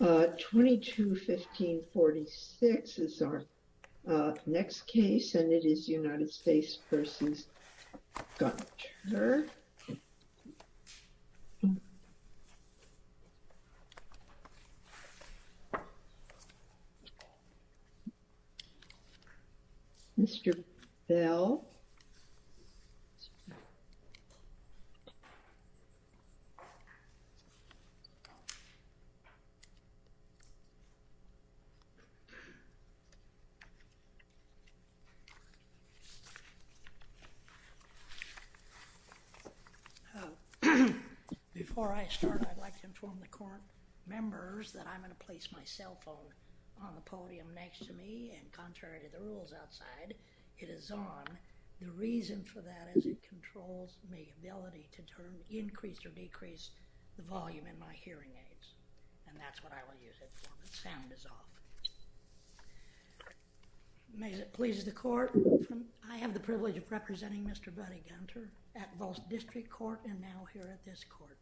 22-1546 is our next case, and it is United States v. Gunter. Mr. Bell. Before I start, I'd like to inform the court members that I'm going to place my cell phone on the podium next to me, and contrary to the rules outside, it is on. The reason for that is it controls my ability to turn, increase or decrease the volume in my hearing aids, and that's what I will use it for, but sound is off. May it please the court, I have the privilege of representing Mr. Buddy Gunter at both District Court and now here at this court.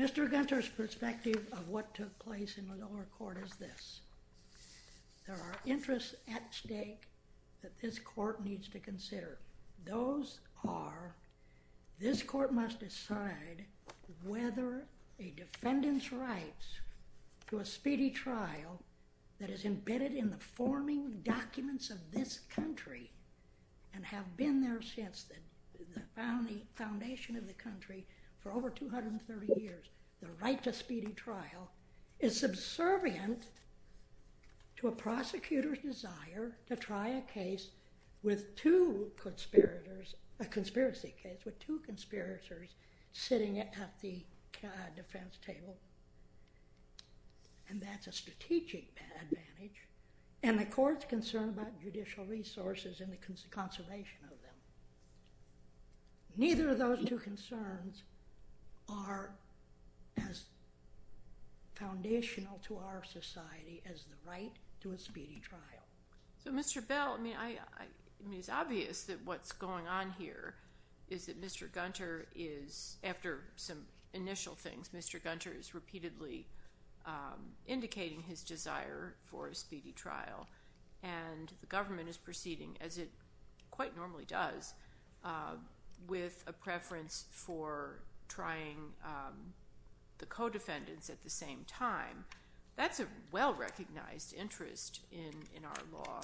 Mr. Gunter's perspective of what took place in the lower court is this. There are interests at stake that this court needs to consider. Those are, This court must decide whether a defendant's rights to a speedy trial that is embedded in the forming documents of this country and have been there since the foundation of the country for over 230 years, the right to speedy trial, is subservient to a prosecutor's desire to try a case with two conspirators, a conspiracy case with two conspirators sitting at the defense table, and that's a strategic advantage, and the court's concern about judicial resources and the conservation of them. Neither of those two concerns are as foundational to our society as the right to a speedy trial. So Mr. Bell, I mean, it's obvious that what's going on here is that Mr. Gunter is, after some initial things, Mr. Gunter is repeatedly indicating his desire for a speedy trial, and the government is proceeding as it quite normally does with a recognized interest in our law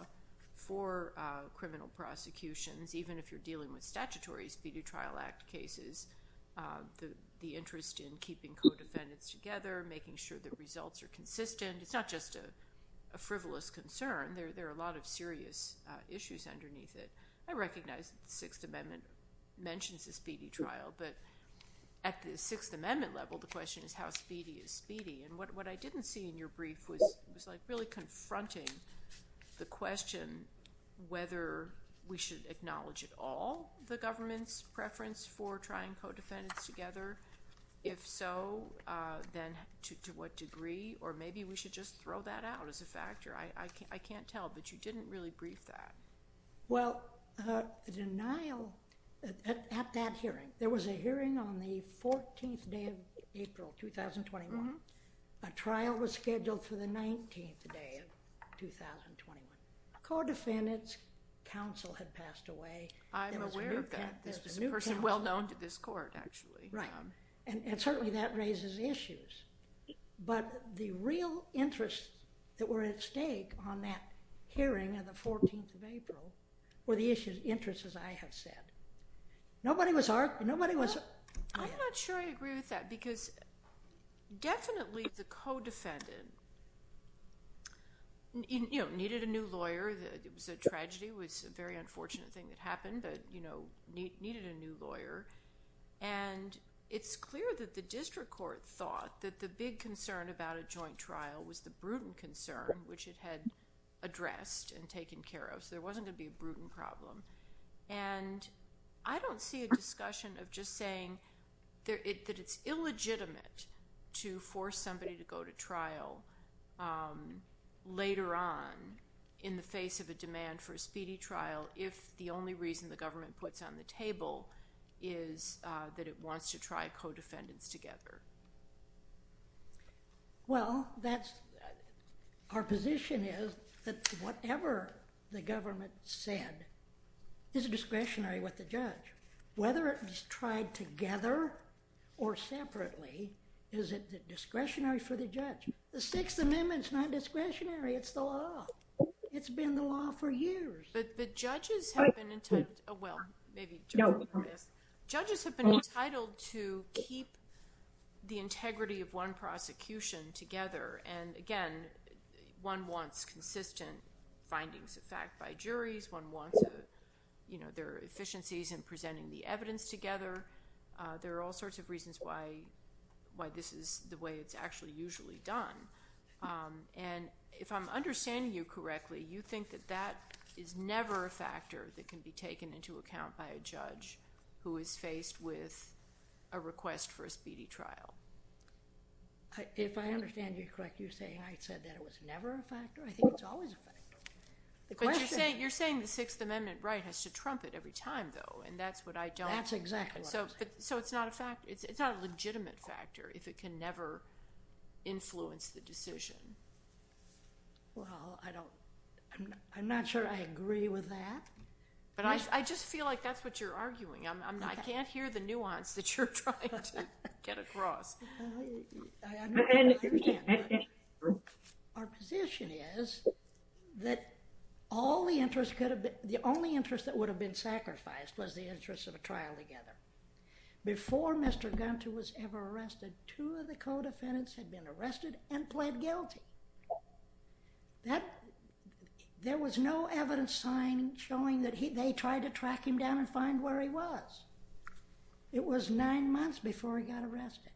for criminal prosecutions, even if you're dealing with statutory Speedy Trial Act cases, the interest in keeping co-defendants together, making sure the results are consistent. It's not just a frivolous concern. There are a lot of serious issues underneath it. I recognize the Sixth Amendment mentions a speedy trial, but at the Sixth Amendment level, the really confronting the question whether we should acknowledge at all the government's preference for trying co-defendants together. If so, then to what degree, or maybe we should just throw that out as a factor. I can't tell, but you didn't really brief that. Well, the denial at that hearing, there was a hearing on the 14th day of April 2021. A trial was scheduled for the 19th day of 2021. Co-defendants, counsel had passed away. I'm aware of that. This is a person well known to this court, actually. Right, and certainly that raises issues, but the real interests that were at stake on that hearing on the 14th of April were the issues, interests, as I have said. Nobody was arguing. I'm not sure I agree with that because definitely the co-defendant needed a new lawyer. It was a tragedy. It was a very unfortunate thing that happened, but needed a new lawyer. It's clear that the district court thought that the big concern about a joint trial was the Bruton concern, which it had addressed and taken care of. There wasn't going to be a Bruton problem. I don't see a discussion of just saying that it's illegitimate to force somebody to go to trial later on in the face of a demand for a speedy trial if the only reason the government puts on the table is that it wants to try co-defendants together. Well, that's, our position is that whatever the government said is a discretionary with the judge. Whether it was tried together or separately, is it discretionary for the judge? The Sixth Amendment is not discretionary. It's the law. It's been the law for years. But judges have been entitled to keep the integrity of one prosecution together. And again, one wants consistent findings of fact by juries. One wants their efficiencies in presenting the evidence together. There are all sorts of reasons why this is the way it's usually done. And if I'm understanding you correctly, you think that that is never a factor that can be taken into account by a judge who is faced with a request for a speedy trial? If I understand you correctly, you're saying I said that it was never a factor? I think it's always a factor. But you're saying the Sixth Amendment right has to trumpet every time, though, and that's what I don't. That's exactly what I'm saying. So it's not a legitimate factor if it can never influence the decision? Well, I'm not sure I agree with that. But I just feel like that's what you're arguing. I can't hear the nuance that you're trying to get across. Our position is that the only interest that would have been sacrificed was the interest of a trial together. Before Mr. Gunter was ever arrested, two of the co-defendants had been arrested and pled guilty. There was no evidence showing that they tried to track him down and find where he was. It was nine months before he got arrested,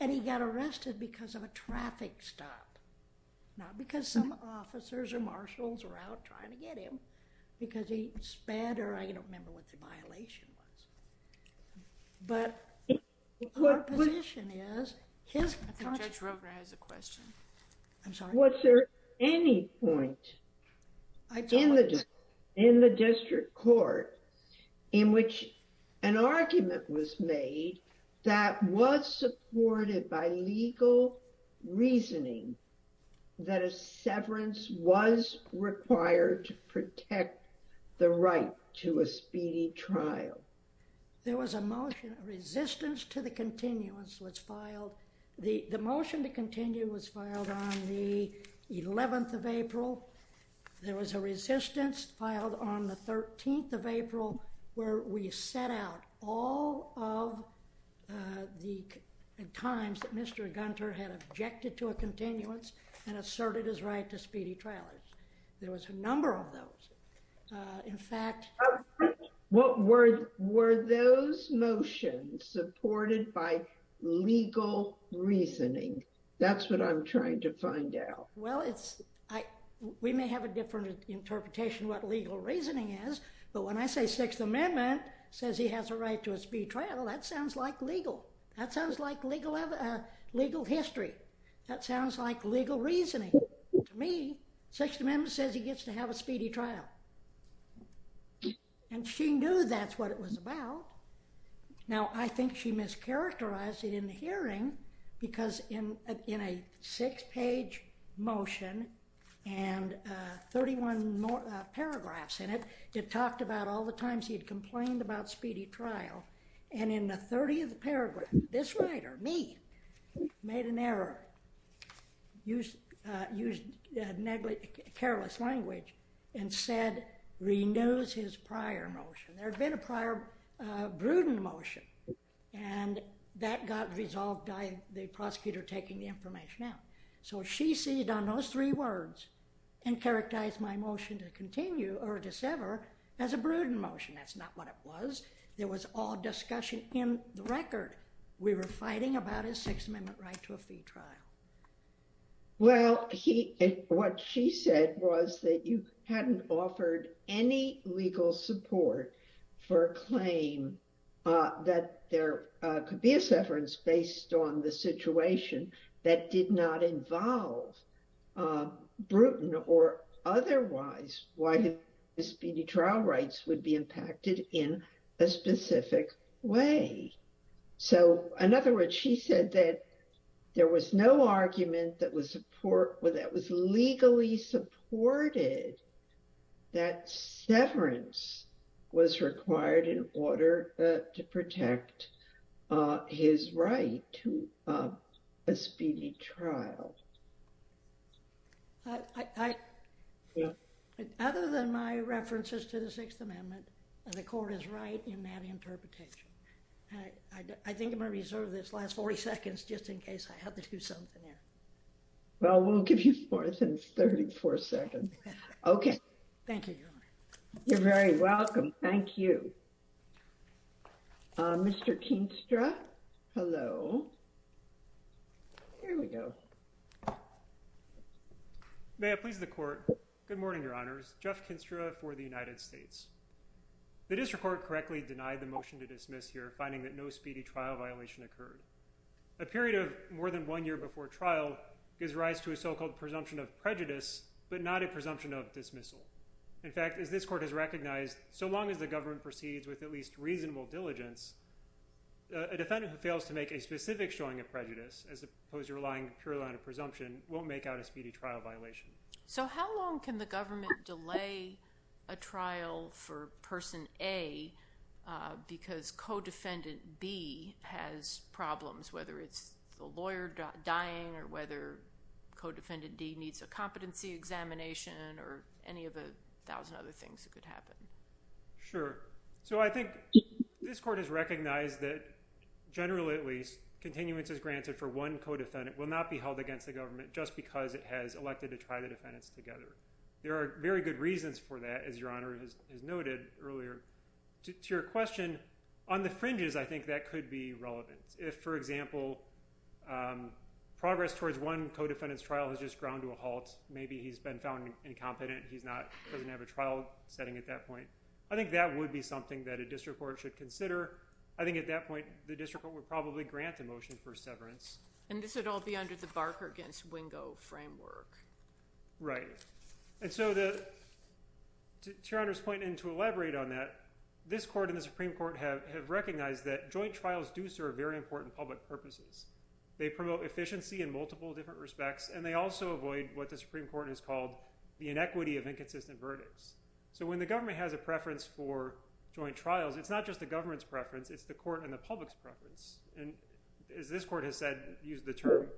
and he got arrested because of a traffic stop, not because some officers or marshals were out trying to track him down. But our position is... I think Judge Rogner has a question. I'm sorry. Was there any point in the district court in which an argument was made that was supported by legal reasoning that a severance was required to protect the right to a speedy trial? There was a motion. A resistance to the continuance was filed. The motion to continue was filed on the 11th of April. There was a resistance filed on the 13th of April where we set out all of the times that Mr. Gunter had objected to a continuance and asserted his right to speedy trial. There was a number of those. In fact... What were those motions supported by legal reasoning? That's what I'm trying to find out. Well, we may have a different interpretation of what legal reasoning is, but when I say Sixth Amendment says he has a right to a speedy trial, that sounds like legal. That sounds like legal history. That sounds like legal reasoning. To me, Sixth Amendment says he gets to have a speedy trial. And she knew that's what it was about. Now, I think she mischaracterized it in the hearing because in a six-page motion and 31 paragraphs in it, it talked about all the times he had complained about speedy trial. And in the 30th paragraph, this writer, me, made an error, used careless language, and said, renews his prior motion. There had been a prior prudent motion, and that got resolved by the prosecutor taking the information out. So she seated on those three words and characterized my motion to continue or to sever as a prudent motion. That's not what it was. There was discussion in the record. We were fighting about his Sixth Amendment right to a speedy trial. Well, what she said was that you hadn't offered any legal support for a claim that there could be a severance based on the situation that did not involve a prudent or otherwise why his speedy trial rights would be impacted in a specific way. So in other words, she said that there was no argument that was legally supported that severance was required in order to protect his right to a speedy trial. I, other than my references to the Sixth Amendment, the court is right in that interpretation. I think I'm going to reserve this last 40 seconds just in case I have to do something here. Well, we'll give you more than 34 seconds. Okay. Thank you, Your Honor. You're very May I please the court? Good morning, Your Honors. Jeff Kinstra for the United States. The district court correctly denied the motion to dismiss here, finding that no speedy trial violation occurred. A period of more than one year before trial gives rise to a so-called presumption of prejudice, but not a presumption of dismissal. In fact, as this court has recognized, so long as the government proceeds with at least reasonable diligence, a defendant who fails to make a specific showing of prejudice as opposed to relying purely on a presumption won't make a speedy trial violation. So how long can the government delay a trial for person A because codefendant B has problems, whether it's the lawyer dying or whether codefendant D needs a competency examination or any of the thousand other things that could happen? Sure. So I think this court has recognized that, generally at least, continuances granted for one will not be held against the government just because it has elected to try the defendants together. There are very good reasons for that, as Your Honor has noted earlier. To your question, on the fringes, I think that could be relevant. If, for example, progress towards one codefendant's trial has just ground to a halt, maybe he's been found incompetent. He doesn't have a trial setting at that point. I think that would be something that a district court should consider. I think at that point, the district court would probably grant a severance. And this would all be under the Barker against Wingo framework. Right. And so to Your Honor's point, and to elaborate on that, this court and the Supreme Court have recognized that joint trials do serve very important public purposes. They promote efficiency in multiple different respects, and they also avoid what the Supreme Court has called the inequity of inconsistent verdicts. So when the government has a preference for joint trials, it's not just the government's preference, it's the court and the public's preference. As this court has said, used the term,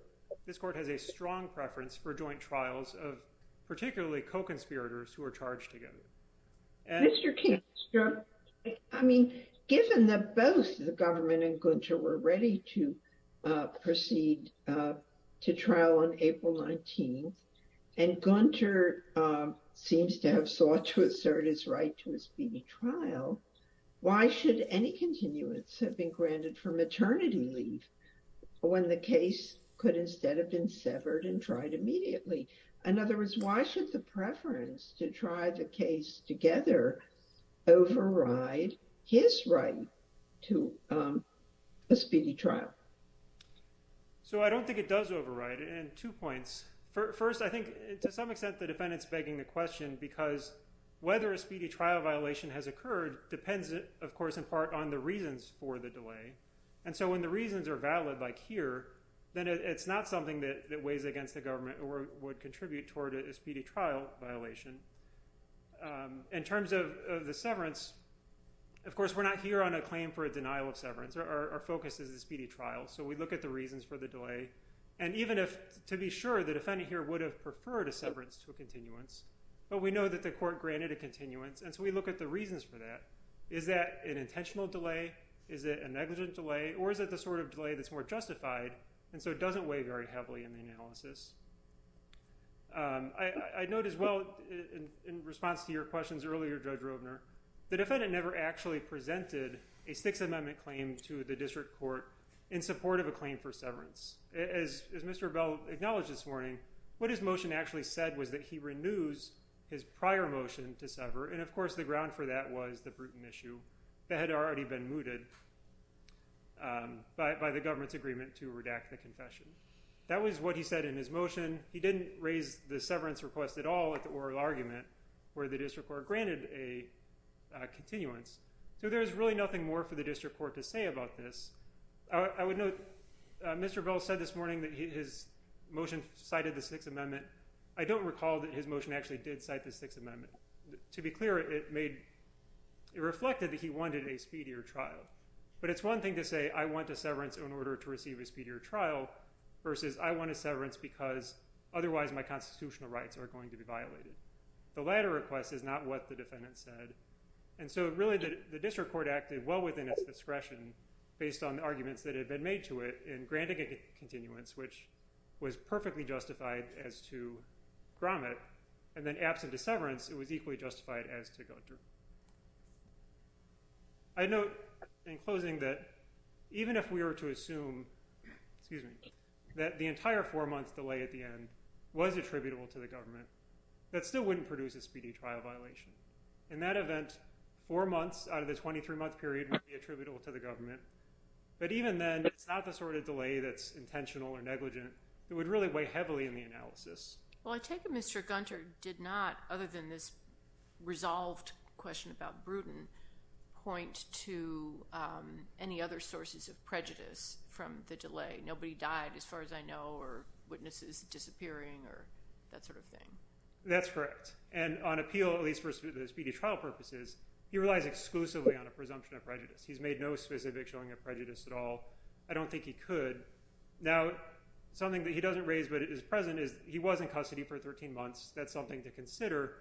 this court has a strong preference for joint trials of particularly co-conspirators who are charged together. Mr. King, I mean, given that both the government and Gunter were ready to proceed to trial on April 19th, and Gunter seems to have sought to assert his right to a speedy trial, why should any continuance have been granted for maternity leave when the case could instead have been severed and tried immediately? In other words, why should the preference to try the case together override his right to a speedy trial? So I don't think it does override. And two points. First, I think to some extent, the defendant's begging the question because whether a speedy trial violation has occurred depends, of course, in part on the reasons for the delay. And so when the reasons are valid, like here, then it's not something that weighs against the government or would contribute toward a speedy trial violation. In terms of the severance, of course, we're not here on a claim for a denial of severance. Our focus is the speedy trial. So we look at the reasons for the delay. And even if, to be sure, the defendant here would have preferred a severance to a continuance, but we know that the court granted a continuance. And so we look at the reasons for that. Is that an intentional delay? Is it a negligent delay? Or is it the sort of delay that's more justified? And so it doesn't weigh very heavily in the analysis. I note as well, in response to your questions earlier, Judge Rovner, the defendant never actually presented a Sixth Amendment claim to the district court in support of a claim for severance. As Mr. Bell acknowledged this morning, what his motion actually said was that he renews his prior motion to sever. And of course, the ground for that was the Bruton issue that had already been mooted by the government's agreement to redact the confession. That was what he said in his motion. He didn't raise the severance request at all at the oral argument where the district court granted a continuance. So there's really nothing more for the district court to say about this. I would note Mr. Bell said this morning that his motion cited the Sixth Amendment. I don't recall that his motion actually did cite the Sixth Amendment. To be clear, it reflected that he wanted a speedier trial. But it's one thing to say, I want a severance in order to receive a speedier trial versus I want a severance because otherwise my constitutional rights are going to be violated. The latter request is not what the defendant said. And so really the district court acted well within its discretion based on the arguments that had been made to it in granting a continuance, which was perfectly justified as to Gromit. And then absent a severance, it was equally justified as to Guenther. I note in closing that even if we were to assume, excuse me, that the entire four months delay at the end was attributable to the government, that still wouldn't produce a speedy trial violation. In that event, four months out of the 23-month period would be attributable to the government. But even then, it's not the sort of delay that's intentional or negligent. It would really weigh heavily in the analysis. Well, I take it Mr. Guenther did not, other than this resolved question about Bruton, point to any other sources of prejudice from the delay. Nobody died, as far as I know, or witnesses disappearing, or that sort of thing. That's correct. And on appeal, at least for the speedy trial purposes, he relies exclusively on a presumption of prejudice. He's made no specific showing of prejudice at all. I don't think he could. Now, something that he doesn't raise but is present is he was in custody for 13 months. That's something to consider.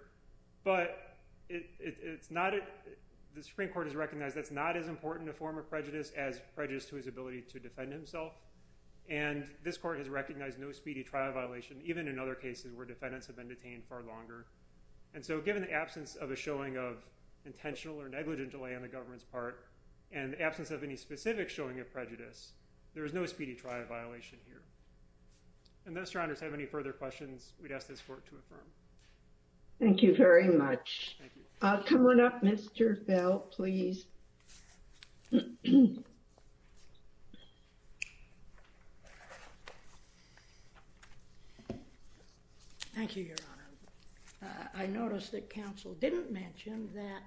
But the Supreme Court has recognized that's not as important a prejudice as prejudice to his ability to defend himself. And this court has recognized no speedy trial violation, even in other cases where defendants have been detained far longer. And so given the absence of a showing of intentional or negligent delay on the government's part, and the absence of any specific showing of prejudice, there is no speedy trial violation here. Unless your honors have any further questions, we'd ask this court to affirm. Thank you very much. Coming up, Mr. Bell, please. Thank you, Your Honor. I noticed that counsel didn't mention that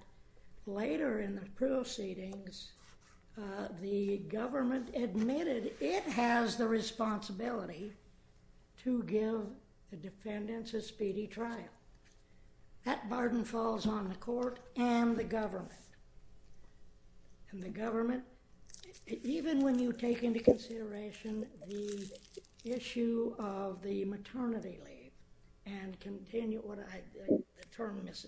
later in the proceedings, uh, the government admitted it has the responsibility to give the defendants a speedy trial. That burden falls on the court and the government. And the government, even when you take into consideration the issue of the maternity leave and continue what I, the term is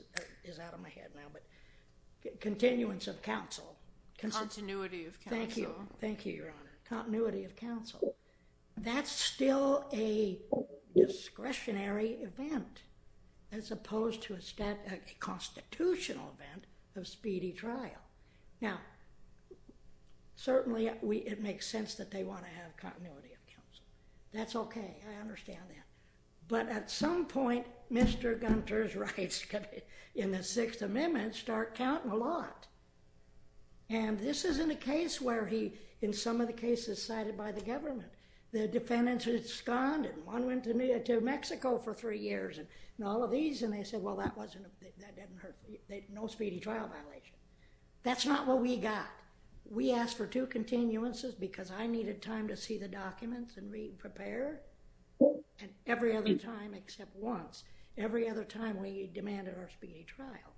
out of my head now, but continuance of counsel. Continuity of counsel. Thank you. Thank you, Your Honor. Continuity of counsel. That's still a discretionary event as opposed to a stat, a constitutional event of speedy trial. Now, certainly we, it makes sense that they want to have continuity of counsel. That's okay. I understand that. But at some point, Mr. Gunter's rights in the Sixth Amendment start counting a lot. And this isn't a case where he, in some of the cases cited by the government, the defendants responded. One went to Mexico for three years and all of these, and they said, well, that wasn't, that didn't hurt, no speedy trial violation. That's not what we got. We asked for two continuances because I needed time to see the documents and read and prepare. And every other time except once, every other time we demanded our speedy trial.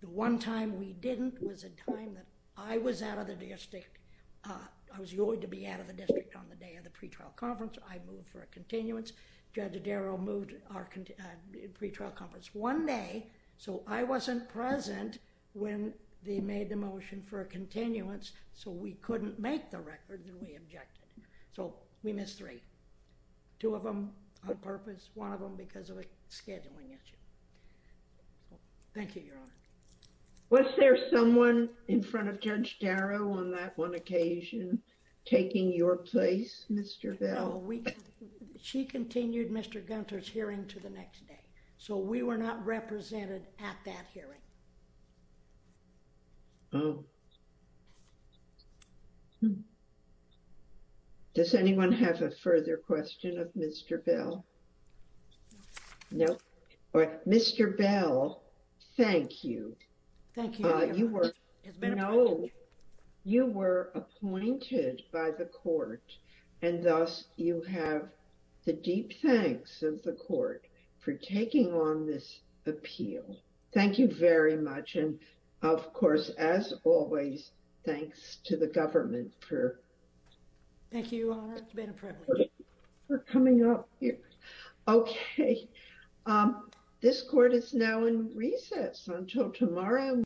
The one time we didn't was a time that I was out of the district. I was going to be out of the district on the day of the pre-trial conference. I moved for a continuance. Judge Darrell moved our pre-trial conference one day, so I wasn't present when they made the motion for a continuance. So we couldn't make the record and we objected. So we missed three, two of them on purpose, one of them because of a scheduling issue. Thank you, Your Honor. Was there someone in front of Judge Darrell on that one occasion taking your place, Mr. Bell? No, we, she continued Mr. Gunter's hearing to the next day. So we were not represented at that hearing. Oh. Does anyone have a further question of Mr. Bell? No. Mr. Bell, thank you. Thank you. You were, you know, you were appointed by the court and thus you have the deep thanks of the court for taking on this appeal. Thank you very much. And of course, as always, thanks to the government for coming up here. Okay. This court is now in recess until tomorrow.